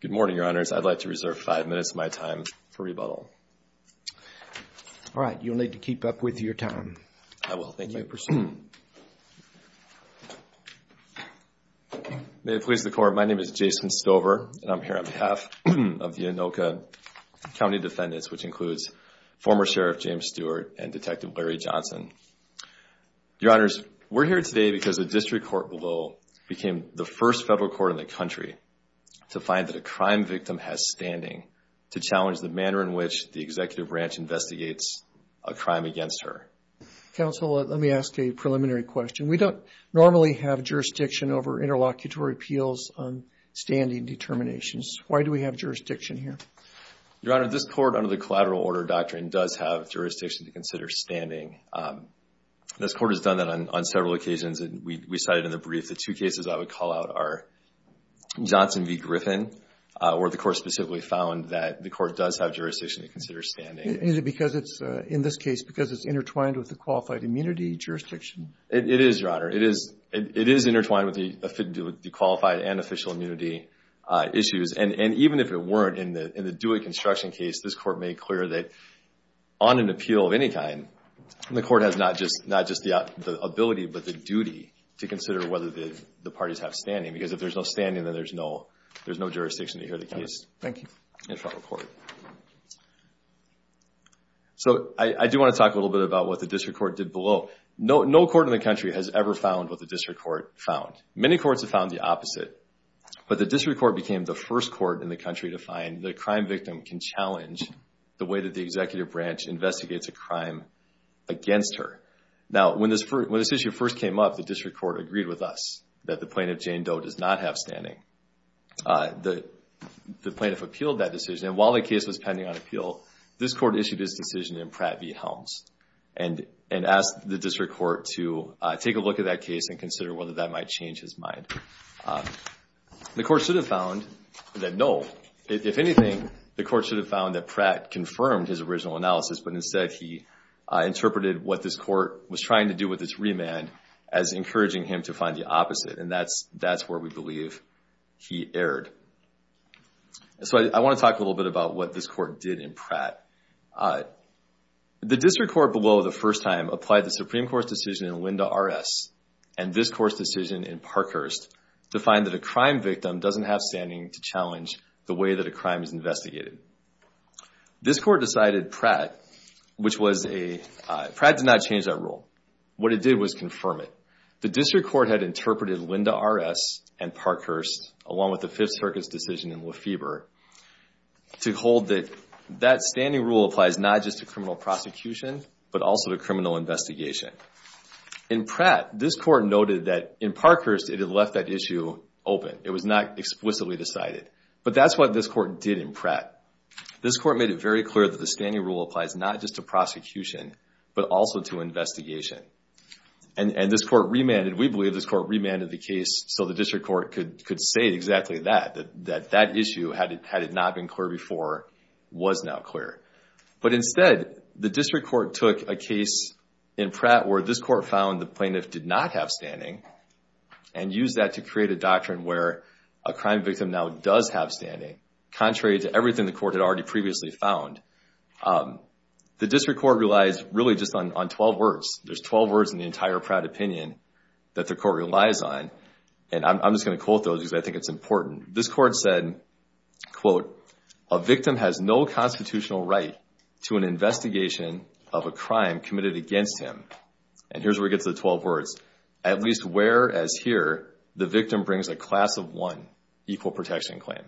Good morning, Your Honors. I'd like to reserve five minutes of my time for rebuttal. All right. You'll need to keep up with your time. I will. Thank you. May it please the Court, my name is Jason Stover, and I'm here on behalf of the Anoka County defendants, which includes former Sheriff James Stewart and Detective Larry Johnson. Your Honors, we're here today because the district court below became the first federal court in the country to find that a crime victim has standing to challenge the manner in which the executive branch investigates a crime against her. Counsel, let me ask a preliminary question. We don't normally have jurisdiction over interlocutory appeals on standing determinations. Why do we have jurisdiction here? Your Honor, this court under the collateral order doctrine does have jurisdiction to consider standing. This court has done that on several occasions. We cited in the brief the two cases I would call out are Johnson v. Griffin, where the court specifically found that the court does have jurisdiction to consider standing. Is it because it's, in this case, because it's intertwined with the qualified immunity jurisdiction? It is, Your Honor. It is intertwined with the qualified and official immunity issues. And even if it weren't in the Dewey construction case, this court made clear that on an appeal of any kind, the court has not just the ability but the duty to consider whether the parties have standing, because if there's no standing, then there's no jurisdiction to hear the case in a federal court. So I do want to talk a little bit about what the district court did below. No court in the country has ever found what the district court found. Many courts have found the opposite, but the district court became the first court in the country to find the crime victim can challenge the way that the executive branch investigates a crime against her. Now, when this issue first came up, the district court agreed with us that the plaintiff, Jane Doe, does not have standing. The plaintiff appealed that decision, and while the case was pending on appeal, this court issued its decision in Pratt v. Helms and asked the district court to take a look at that case and consider whether that might change his mind. The court should have found that no. If anything, the court should have found that Pratt confirmed his original analysis, but instead he interpreted what this court was trying to do with its remand as encouraging him to find the opposite, and that's where we believe he erred. So I want to talk a little bit about what this court did in Pratt. The district court below the first time applied the Supreme Court's decision in Linda R.S. and this court's decision in Parkhurst to find that a crime victim doesn't have standing to challenge the way that a crime is investigated. This court decided Pratt, which was a, Pratt did not change that rule. What it did was confirm it. The district court had interpreted Linda R.S. and Parkhurst, along with the Fifth Circuit's decision in Lefebvre, to hold that that standing rule applies not just to criminal prosecution, but also to criminal investigation. In Pratt, this court noted that in Parkhurst it had left that issue open. It was not explicitly decided. But that's what this court did in Pratt. This court made it very clear that the standing rule applies not just to prosecution, but also to investigation. And this court remanded, we believe this court remanded the case so the district court could say exactly that, that that issue, had it not been clear before, was now clear. But instead, the district court took a case in Pratt where this court found the plaintiff did not have standing and used that to create a doctrine where a crime victim now does have standing, contrary to everything the court had already previously found. The district court relies really just on 12 words. There's 12 words in the entire Pratt opinion that the court relies on, and I'm just going to quote those because I think it's important. This court said, quote, A victim has no constitutional right to an investigation of a crime committed against him. And here's where we get to the 12 words. At least whereas here, the victim brings a class of one equal protection claim.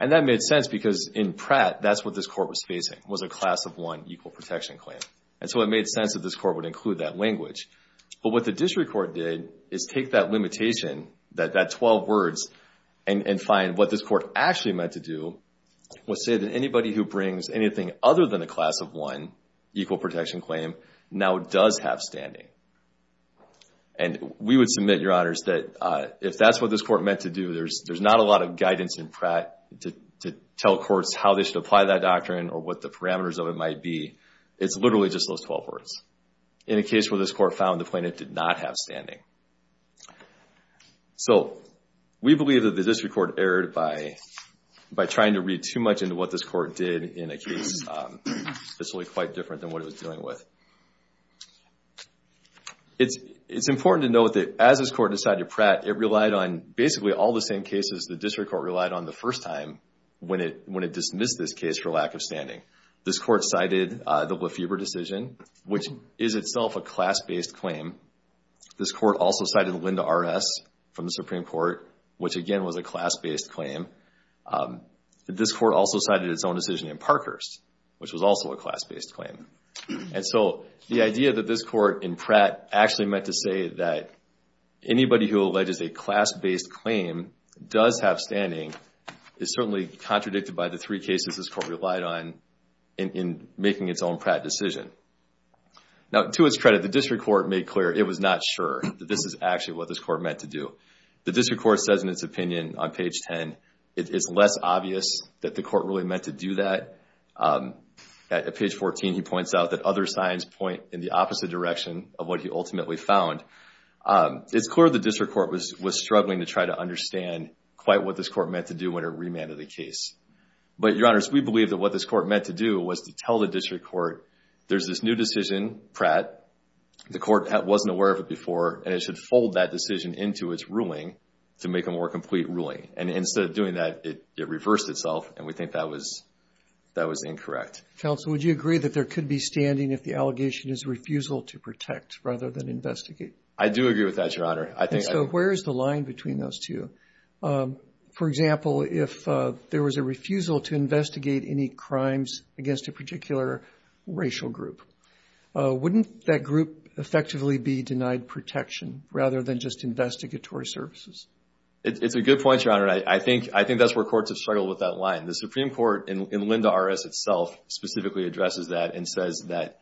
And that made sense because in Pratt, that's what this court was facing, was a class of one equal protection claim. And so it made sense that this court would include that language. But what the district court did is take that limitation, that 12 words, and find what this court actually meant to do was say that anybody who brings anything other than a class of one equal protection claim now does have standing. And we would submit, Your Honors, that if that's what this court meant to do, there's not a lot of guidance in Pratt to tell courts how they should apply that doctrine or what the parameters of it might be. It's literally just those 12 words. In a case where this court found the plaintiff did not have standing. So we believe that the district court erred by trying to read too much into what this court did in a case that's really quite different than what it was dealing with. It's important to note that as this court decided to Pratt, it relied on basically all the same cases the district court relied on the first time when it dismissed this case for lack of standing. This court cited the Lefebvre decision, which is itself a class-based claim. This court also cited Linda R.S. from the Supreme Court, which again was a class-based claim. This court also cited its own decision in Parkhurst, which was also a class-based claim. And so the idea that this court in Pratt actually meant to say that anybody who alleges a class-based claim does have standing is certainly contradicted by the three cases this court relied on in making its own Pratt decision. Now, to its credit, the district court made clear it was not sure that this is actually what this court meant to do. The district court says in its opinion on page 10, it's less obvious that the court really meant to do that. At page 14, he points out that other signs point in the opposite direction of what he ultimately found. It's clear the district court was struggling to try to understand quite what this court meant to do when it remanded the case. But, Your Honors, we believe that what this court meant to do was to tell the district court, there's this new decision, Pratt, the court wasn't aware of it before, and it should fold that decision into its ruling to make a more complete ruling. And instead of doing that, it reversed itself, and we think that was incorrect. Counsel, would you agree that there could be standing if the allegation is refusal to protect rather than investigate? I do agree with that, Your Honor. So where is the line between those two? For example, if there was a refusal to investigate any crimes against a particular racial group, wouldn't that group effectively be denied protection rather than just investigatory services? It's a good point, Your Honor. I think that's where courts have struggled with that line. The Supreme Court in Linda R.S. itself specifically addresses that and says that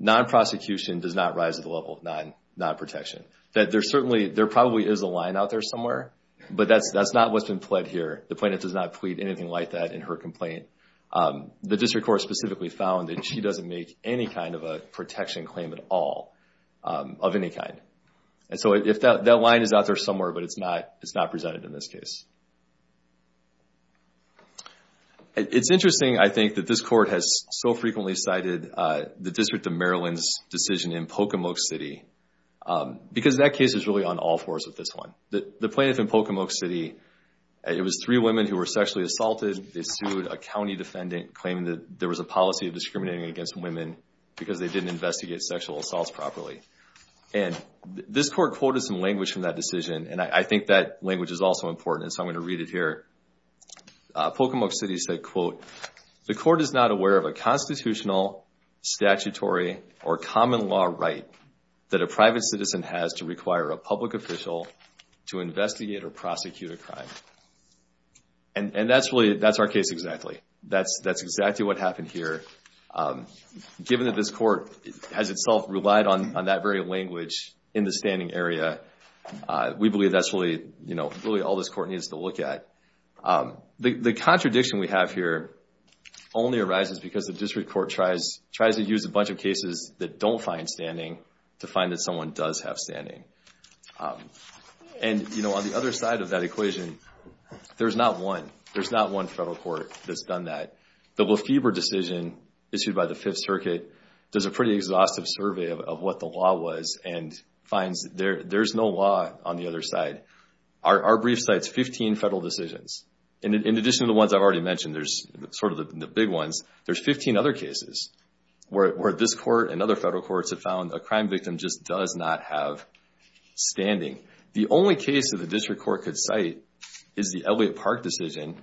non-prosecution does not rise to the level of non-protection, that there probably is a line out there somewhere, but that's not what's been pled here. The plaintiff does not plead anything like that in her complaint. The district court specifically found that she doesn't make any kind of a protection claim at all of any kind. And so that line is out there somewhere, but it's not presented in this case. It's interesting, I think, that this court has so frequently cited the District of Maryland's decision in Pocomoke City because that case is really on all fours with this one. The plaintiff in Pocomoke City, it was three women who were sexually assaulted. They sued a county defendant claiming that there was a policy of discriminating against women because they didn't investigate sexual assaults properly. And this court quoted some language from that decision, and I think that language is also important, and so I'm going to read it here. Pocomoke City said, quote, The court is not aware of a constitutional, statutory, or common law right that a private citizen has to require a public official to investigate or prosecute a crime. And that's our case exactly. That's exactly what happened here. Given that this court has itself relied on that very language in the standing area, we believe that's really all this court needs to look at. The contradiction we have here only arises because the district court tries to use a bunch of cases that don't find standing to find that someone does have standing. And, you know, on the other side of that equation, there's not one. There's not one federal court that's done that. The Lefebvre decision issued by the Fifth Circuit does a pretty exhaustive survey of what the law was and finds there's no law on the other side. Our brief cites 15 federal decisions. And in addition to the ones I've already mentioned, there's sort of the big ones, there's 15 other cases where this court and other federal courts have found a crime victim just does not have standing. The only case that the district court could cite is the Elliott Park decision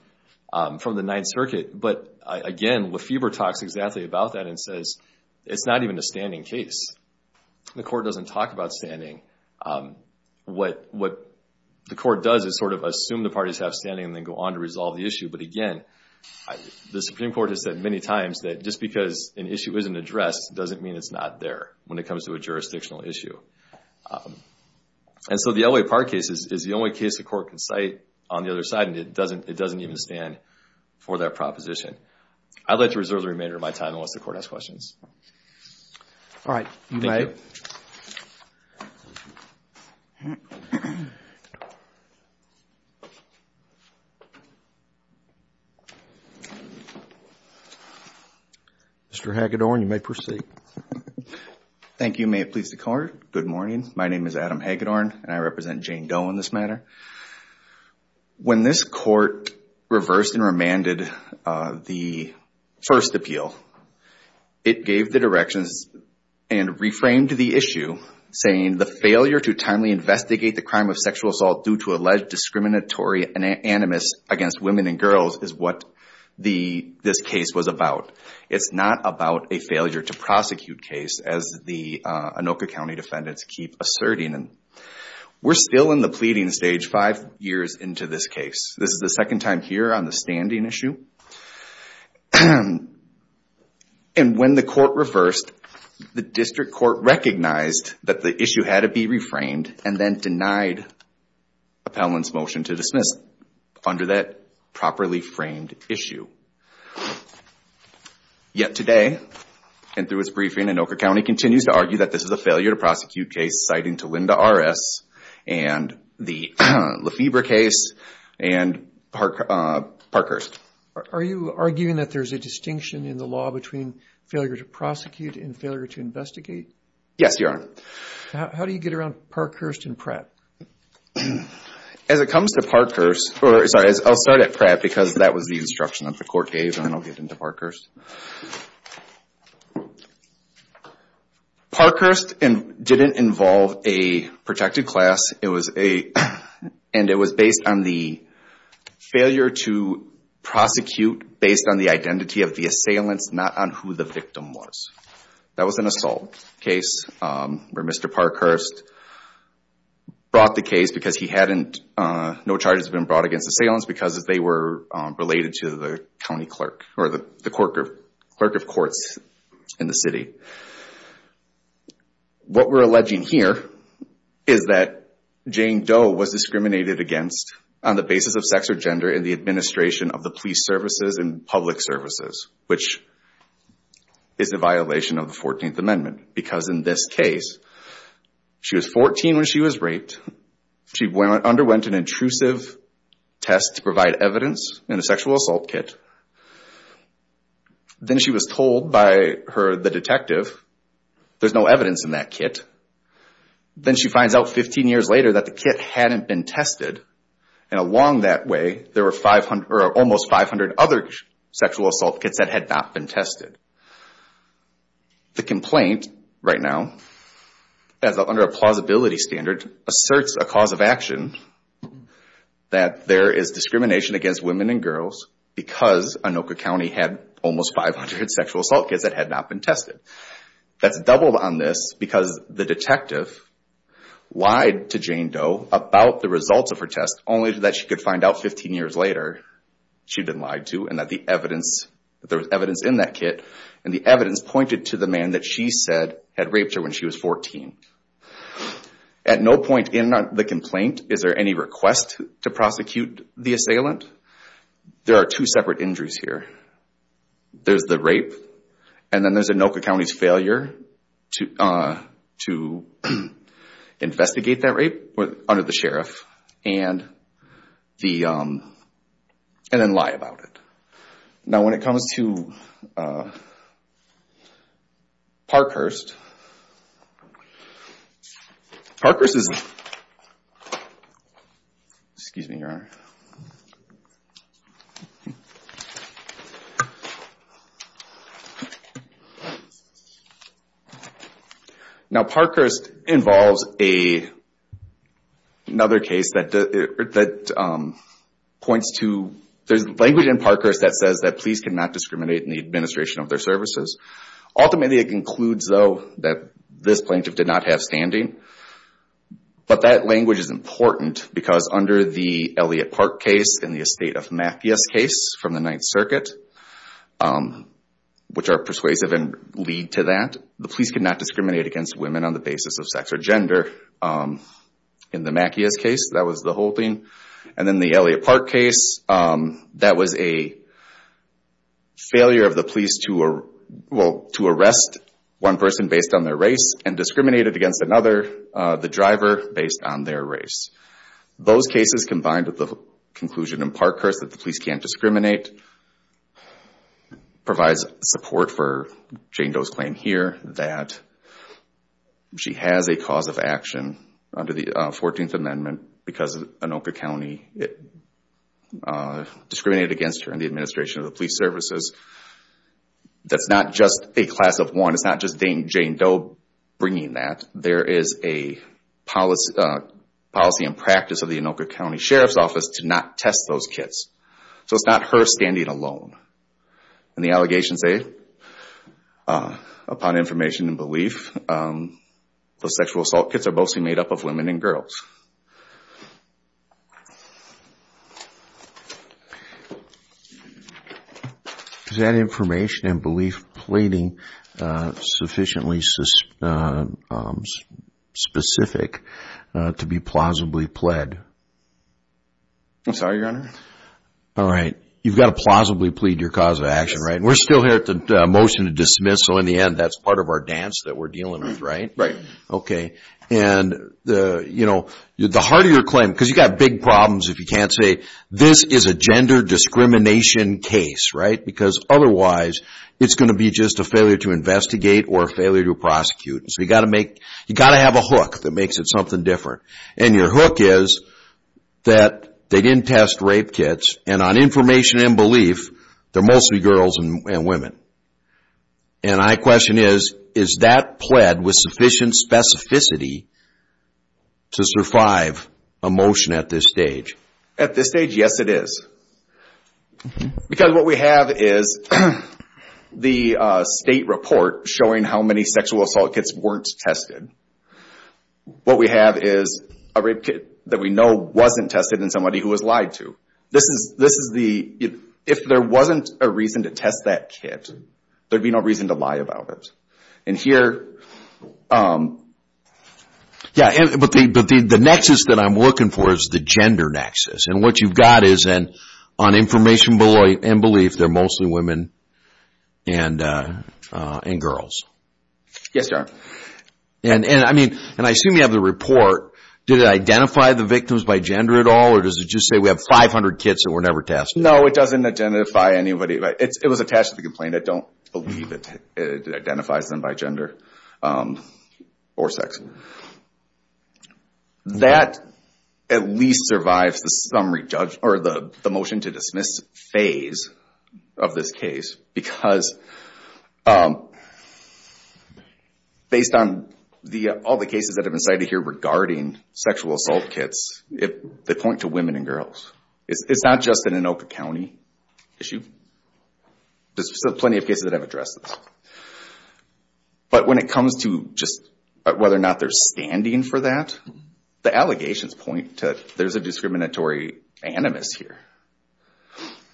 from the Ninth Circuit. But, again, Lefebvre talks exactly about that and says it's not even a standing case. The court doesn't talk about standing. What the court does is sort of assume the parties have standing and then go on to resolve the issue. But, again, the Supreme Court has said many times that just because an issue isn't addressed doesn't mean it's not there when it comes to a jurisdictional issue. And so the Elliott Park case is the only case the court can cite on the other side, and it doesn't even stand for that proposition. I'd like to reserve the remainder of my time unless the court has questions. All right. Thank you. Mr. Hagedorn, you may proceed. Thank you. May it please the Court. Good morning. My name is Adam Hagedorn, and I represent Jane Doe in this matter. When this court reversed and remanded the first appeal, it gave the directions and reframed the issue, saying the failure to timely investigate the crime of sexual assault due to alleged discriminatory animus against women and girls is what this case was about. It's not about a failure to prosecute case, as the Anoka County defendants keep asserting. We're still in the pleading stage five years into this case. This is the second time here on the standing issue. And when the court reversed, the district court recognized that the issue had to be reframed and then denied appellant's motion to dismiss under that properly framed issue. Yet today, and through its briefing, Anoka County continues to argue that this is a failure to prosecute case citing to Linda R.S. and the Lefebvre case and Parkhurst. Are you arguing that there's a distinction in the law between failure to prosecute and failure to investigate? Yes, Your Honor. How do you get around Parkhurst and Pratt? As it comes to Parkhurst, or sorry, I'll start at Pratt, because that was the instruction that the court gave, and then I'll get into Parkhurst. Parkhurst didn't involve a protected class, and it was based on the failure to prosecute based on the identity of the assailants, not on who the victim was. That was an assault case where Mr. Parkhurst brought the case because he hadn't, no charges had been brought against assailants because they were related to the county clerk, or the clerk of courts in the city. What we're alleging here is that Jane Doe was discriminated against on the basis of sex or gender in the administration of the police services and public services, which is a violation of the 14th Amendment. Because in this case, she was 14 when she was raped, she underwent an intrusive test to provide evidence in a sexual assault kit, then she was told by her, the detective, there's no evidence in that kit. Then she finds out 15 years later that the kit hadn't been tested, and along that way, there were almost 500 other sexual assault kits that had not been tested. The complaint, right now, under a plausibility standard, asserts a cause of action that there is discrimination against women and girls because Anoka County had almost 500 sexual assault kits that had not been tested. That's doubled on this because the detective lied to Jane Doe about the results of her test, only that she could find out 15 years later she'd been lied to, and that the evidence, there was evidence in that kit, and the evidence pointed to the man that she said had raped her when she was 14. At no point in the complaint is there any request to prosecute the assailant. There are two separate injuries here. There's the rape, and then there's Anoka County's failure to investigate that rape under the sheriff, and then lie about it. Now, when it comes to Parkhurst, Parkhurst is, excuse me, Your Honor. Now, Parkhurst involves another case that points to, there's language in Parkhurst that says that police cannot discriminate in the administration of their services. Ultimately, it concludes, though, that this plaintiff did not have standing, but that language is important because under the Elliott Park case and the Estate of Macias case from the Ninth Circuit, which are persuasive and lead to that, the police could not discriminate against women on the basis of sex or gender. In the Macias case, that was the whole thing, and then the Elliott Park case, that was a failure of the police to arrest one person based on their race and discriminate against another, the driver, based on their race. Those cases combined with the conclusion in Parkhurst that the police can't discriminate provides support for Jane Doe's claim here that she has a cause of action under the 14th Amendment because Anoka County discriminated against her in the administration of the police services. That's not just a class of one. It's not just Jane Doe bringing that. There is a policy and practice of the Anoka County Sheriff's Office to not test those kits. So it's not her standing alone. And the allegations say, upon information and belief, those sexual assault kits are mostly made up of women and girls. Is that information and belief pleading sufficiently specific to be plausibly pled? I'm sorry, Your Honor? All right. You've got to plausibly plead your cause of action, right? We're still here at the motion to dismiss, so in the end, that's part of our dance that we're dealing with, right? Right. The heart of your claim, because you've got big problems if you can't say, this is a gender discrimination case, right? Because otherwise, it's going to be just a failure to investigate or a failure to prosecute. So you've got to have a hook that makes it something different. And your hook is that they didn't test rape kits, and on information and belief, they're mostly girls and women. And my question is, is that pled with sufficient specificity to survive a motion at this stage? At this stage, yes, it is. Because what we have is the state report showing how many sexual assault kits weren't tested. What we have is a rape kit that we know wasn't tested in somebody who was lied to. If there wasn't a reason to test that kit, there'd be no reason to lie about it. The nexus that I'm looking for is the gender nexus. And what you've got is on information and belief, they're mostly women and girls. Yes, sir. And I assume you have the report. Did it identify the victims by gender at all, or does it just say we have 500 kits that were never tested? No, it doesn't identify anybody. It was attached to the complaint. I don't believe it identifies them by gender or sex. That at least survives the motion to dismiss phase of this case. Because based on all the cases that have been cited here regarding sexual assault kits, they point to women and girls. It's not just an Anoka County issue. There's plenty of cases that have addressed this. But when it comes to just whether or not there's standing for that, the allegations point to there's a discriminatory animus here.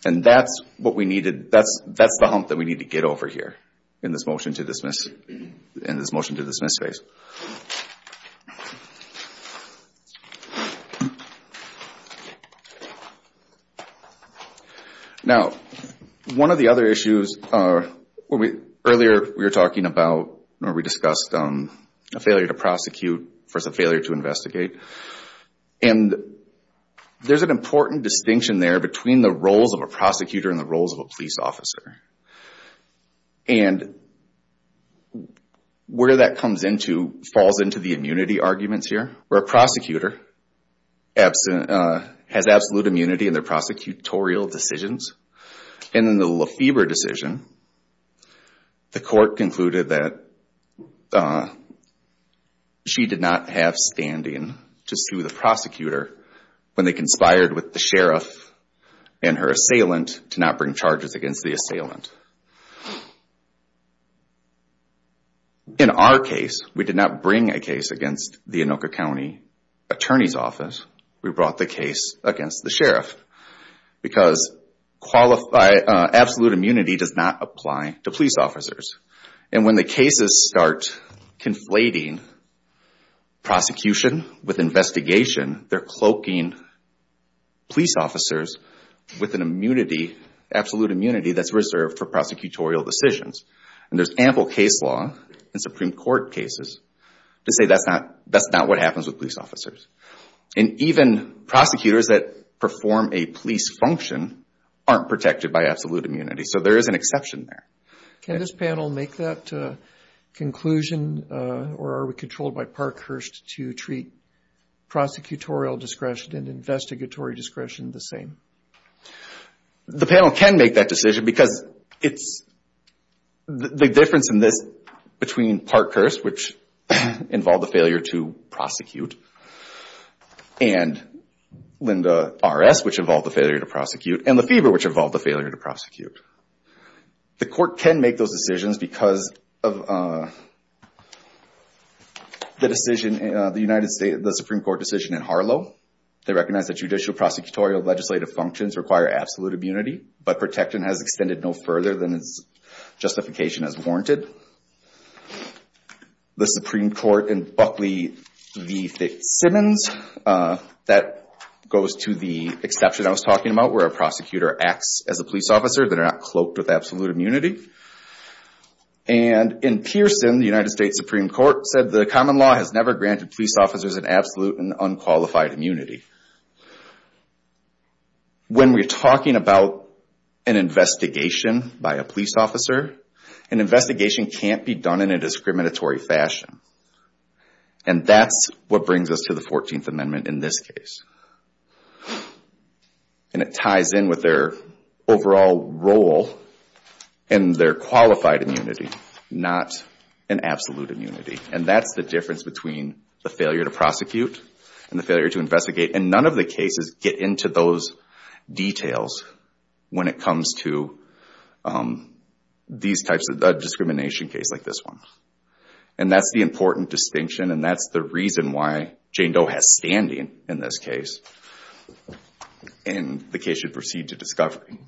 And that's the hump that we need to get over here in this motion to dismiss phase. Now, one of the other issues, earlier we were talking about or we discussed a failure to prosecute versus a failure to investigate. And there's an important distinction there between the roles of a prosecutor and the roles of a police officer. And where that comes into, falls into the immunity arguments here, where a prosecutor has absolute immunity in their prosecutorial decisions. And in the Lefebvre decision, the court concluded that she did not have standing to sue the prosecutor when they conspired with the sheriff and her assailant to not bring charges against the assailant. In our case, we did not bring a case against the Anoka County Attorney's Office. We brought the case against the sheriff because absolute immunity does not apply to police officers. And when the cases start conflating prosecution with investigation, they're cloaking police officers with an absolute immunity that's reserved for prosecutorial decisions. And there's ample case law in Supreme Court cases to say that's not what happens with police officers. And even prosecutors that perform a police function aren't protected by absolute immunity. So there is an exception there. Can this panel make that conclusion or are we controlled by Parkhurst to treat prosecutorial discretion and investigatory discretion the same? The panel can make that decision because it's the difference in this between Parkhurst, which involved a failure to prosecute, and Lynda R.S., which involved a failure to prosecute, and Lefebvre, which involved a failure to prosecute. The court can make those decisions because of the Supreme Court decision in Harlow. They recognize that judicial, prosecutorial, legislative functions require absolute immunity, but protection has extended no further than its justification has warranted. The Supreme Court in Buckley v. Fitzsimmons, that goes to the exception I was talking about where a prosecutor acts as a police officer, they're not cloaked with absolute immunity. And in Pearson, the United States Supreme Court said the common law has never granted police officers an absolute and unqualified immunity. When we're talking about an investigation by a police officer, an investigation can't be done in a discriminatory fashion. And that's what brings us to the 14th Amendment in this case. And it ties in with their overall role and their qualified immunity, not an absolute immunity. And that's the difference between the failure to prosecute and the failure to investigate. And none of the cases get into those details when it comes to these types of discrimination cases like this one. And that's the important distinction, and that's the reason why Jane Doe has standing in this case, and the case should proceed to discovery.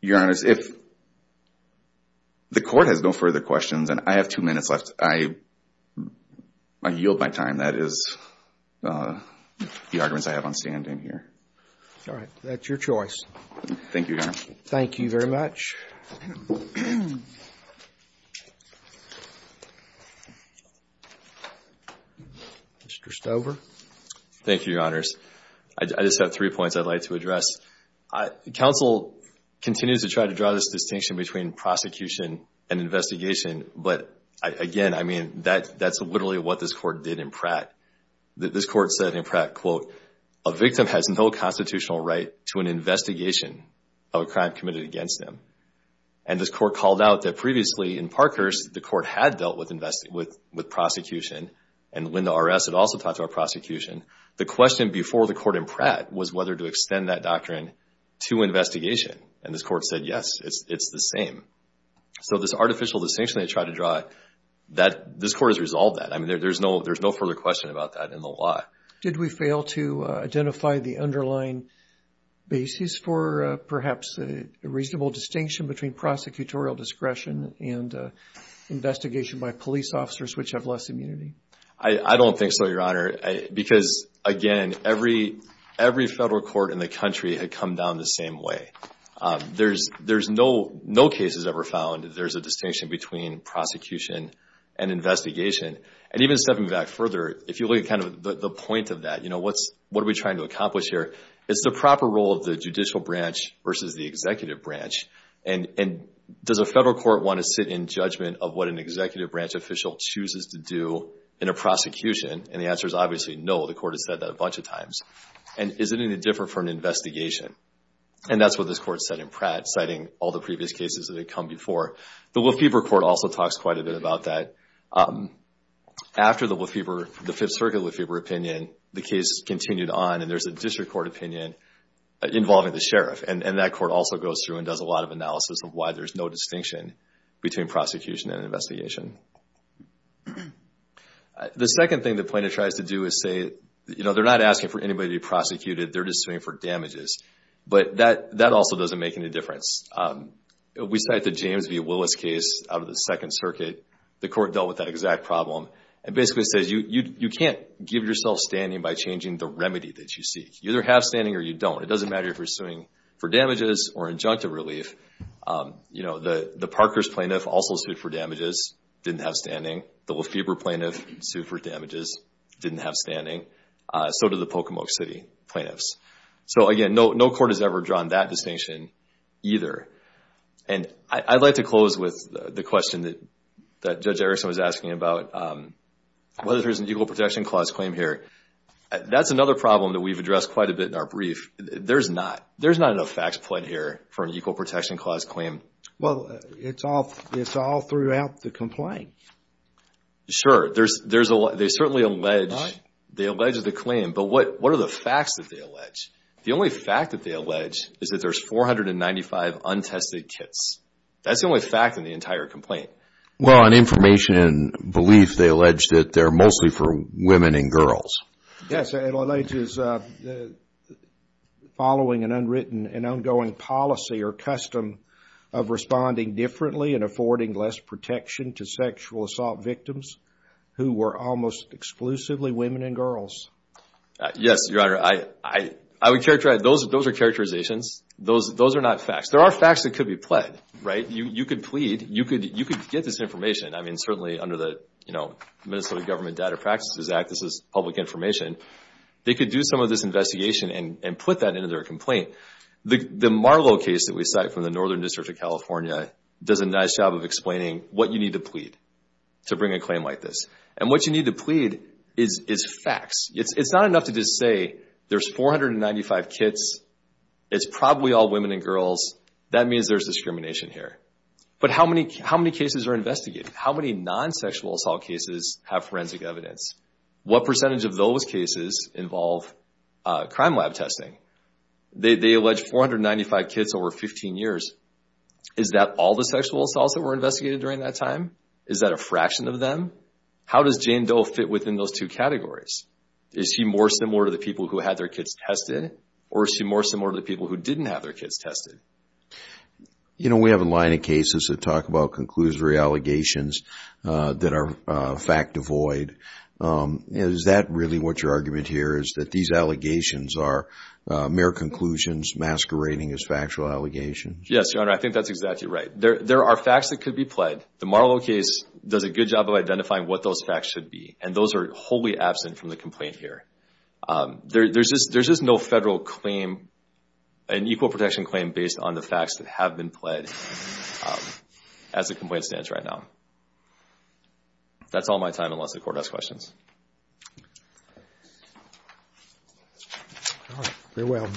Your Honor, if the Court has no further questions, and I have two minutes left, I yield my time. That is the arguments I have on standing here. All right. That's your choice. Thank you, Your Honor. Thank you very much. Mr. Stover. Thank you, Your Honors. I just have three points I'd like to address. Counsel continues to try to draw this distinction between prosecution and investigation. But again, I mean, that's literally what this Court did in Pratt. This Court said in Pratt, quote, a victim has no constitutional right to an investigation of a crime committed against them. And this Court called out that previously in Parkhurst, the Court had dealt with prosecution, and Linda R.S. had also talked about prosecution. The question before the Court in Pratt was whether to extend that doctrine to investigation. And this Court said, yes, it's the same. So this artificial distinction they tried to draw, this Court has resolved that. I mean, there's no further question about that in the law. Did we fail to identify the underlying basis for perhaps a reasonable distinction between prosecutorial discretion and investigation by police officers which have less immunity? I don't think so, Your Honor. Because again, every federal court in the country had come down the same way. There's no cases ever found that there's a distinction between prosecution and investigation. And even stepping back further, if you look at kind of the point of that, you know, what are we trying to accomplish here? It's the proper role of the judicial branch versus the executive branch. And does a federal court want to sit in judgment of what an executive branch official chooses to do in a prosecution? And the answer is obviously no. The Court has said that a bunch of times. And is it any different for an investigation? And that's what this Court said in Pratt, citing all the previous cases that had come before. The Lefebvre Court also talks quite a bit about that. After the Fifth Circuit Lefebvre opinion, the case continued on, and there's a district court opinion involving the sheriff. And that court also goes through and does a lot of analysis of why there's no distinction between prosecution and investigation. The second thing the plaintiff tries to do is say, you know, they're not asking for anybody to be prosecuted, they're just suing for damages. But that also doesn't make any difference. We cite the James v. Willis case out of the Second Circuit. The Court dealt with that exact problem. It basically says you can't give yourself standing by changing the remedy that you seek. You either have standing or you don't. It doesn't matter if you're suing for damages or injunctive relief. You know, the Parkers plaintiff also sued for damages, didn't have standing. The Lefebvre plaintiff sued for damages, didn't have standing. So did the Pocomoke City plaintiffs. So, again, no court has ever drawn that distinction either. And I'd like to close with the question that Judge Erickson was asking about, whether there's an Equal Protection Clause claim here. That's another problem that we've addressed quite a bit in our brief. There's not. There's not enough facts put here for an Equal Protection Clause claim. Well, it's all throughout the complaint. Sure. They certainly allege. They allege the claim. But what are the facts that they allege? The only fact that they allege is that there's 495 untested kits. That's the only fact in the entire complaint. Well, on information and belief, they allege that they're mostly for women and girls. Yes. It alleges following an unwritten and ongoing policy or custom of responding differently and affording less protection to sexual assault victims who were almost exclusively women and girls. Yes, Your Honor. Those are characterizations. Those are not facts. There are facts that could be pled, right? You could plead. You could get this information. I mean, certainly under the Minnesota Government Data Practices Act, this is public information. They could do some of this investigation and put that into their complaint. The Marlow case that we cite from the Northern District of California does a nice job of explaining what you need to plead to bring a claim like this. And what you need to plead is facts. It's not enough to just say there's 495 kits. It's probably all women and girls. That means there's discrimination here. But how many cases are investigated? How many non-sexual assault cases have forensic evidence? What percentage of those cases involve crime lab testing? They allege 495 kits over 15 years. Is that all the sexual assaults that were investigated during that time? Is that a fraction of them? How does Jane Doe fit within those two categories? Is she more similar to the people who had their kits tested? Or is she more similar to the people who didn't have their kits tested? We have a line of cases that talk about conclusory allegations that are fact devoid. Is that really what your argument here is that these allegations are mere conclusions masquerading as factual allegations? Yes, Your Honor. I think that's exactly right. There are facts that could be pled. The Marlow case does a good job of identifying what those facts should be. And those are wholly absent from the complaint here. There's just no federal claim, an equal protection claim, based on the facts that have been pled as the complaint stands right now. That's all my time, unless the Court has questions. Very well.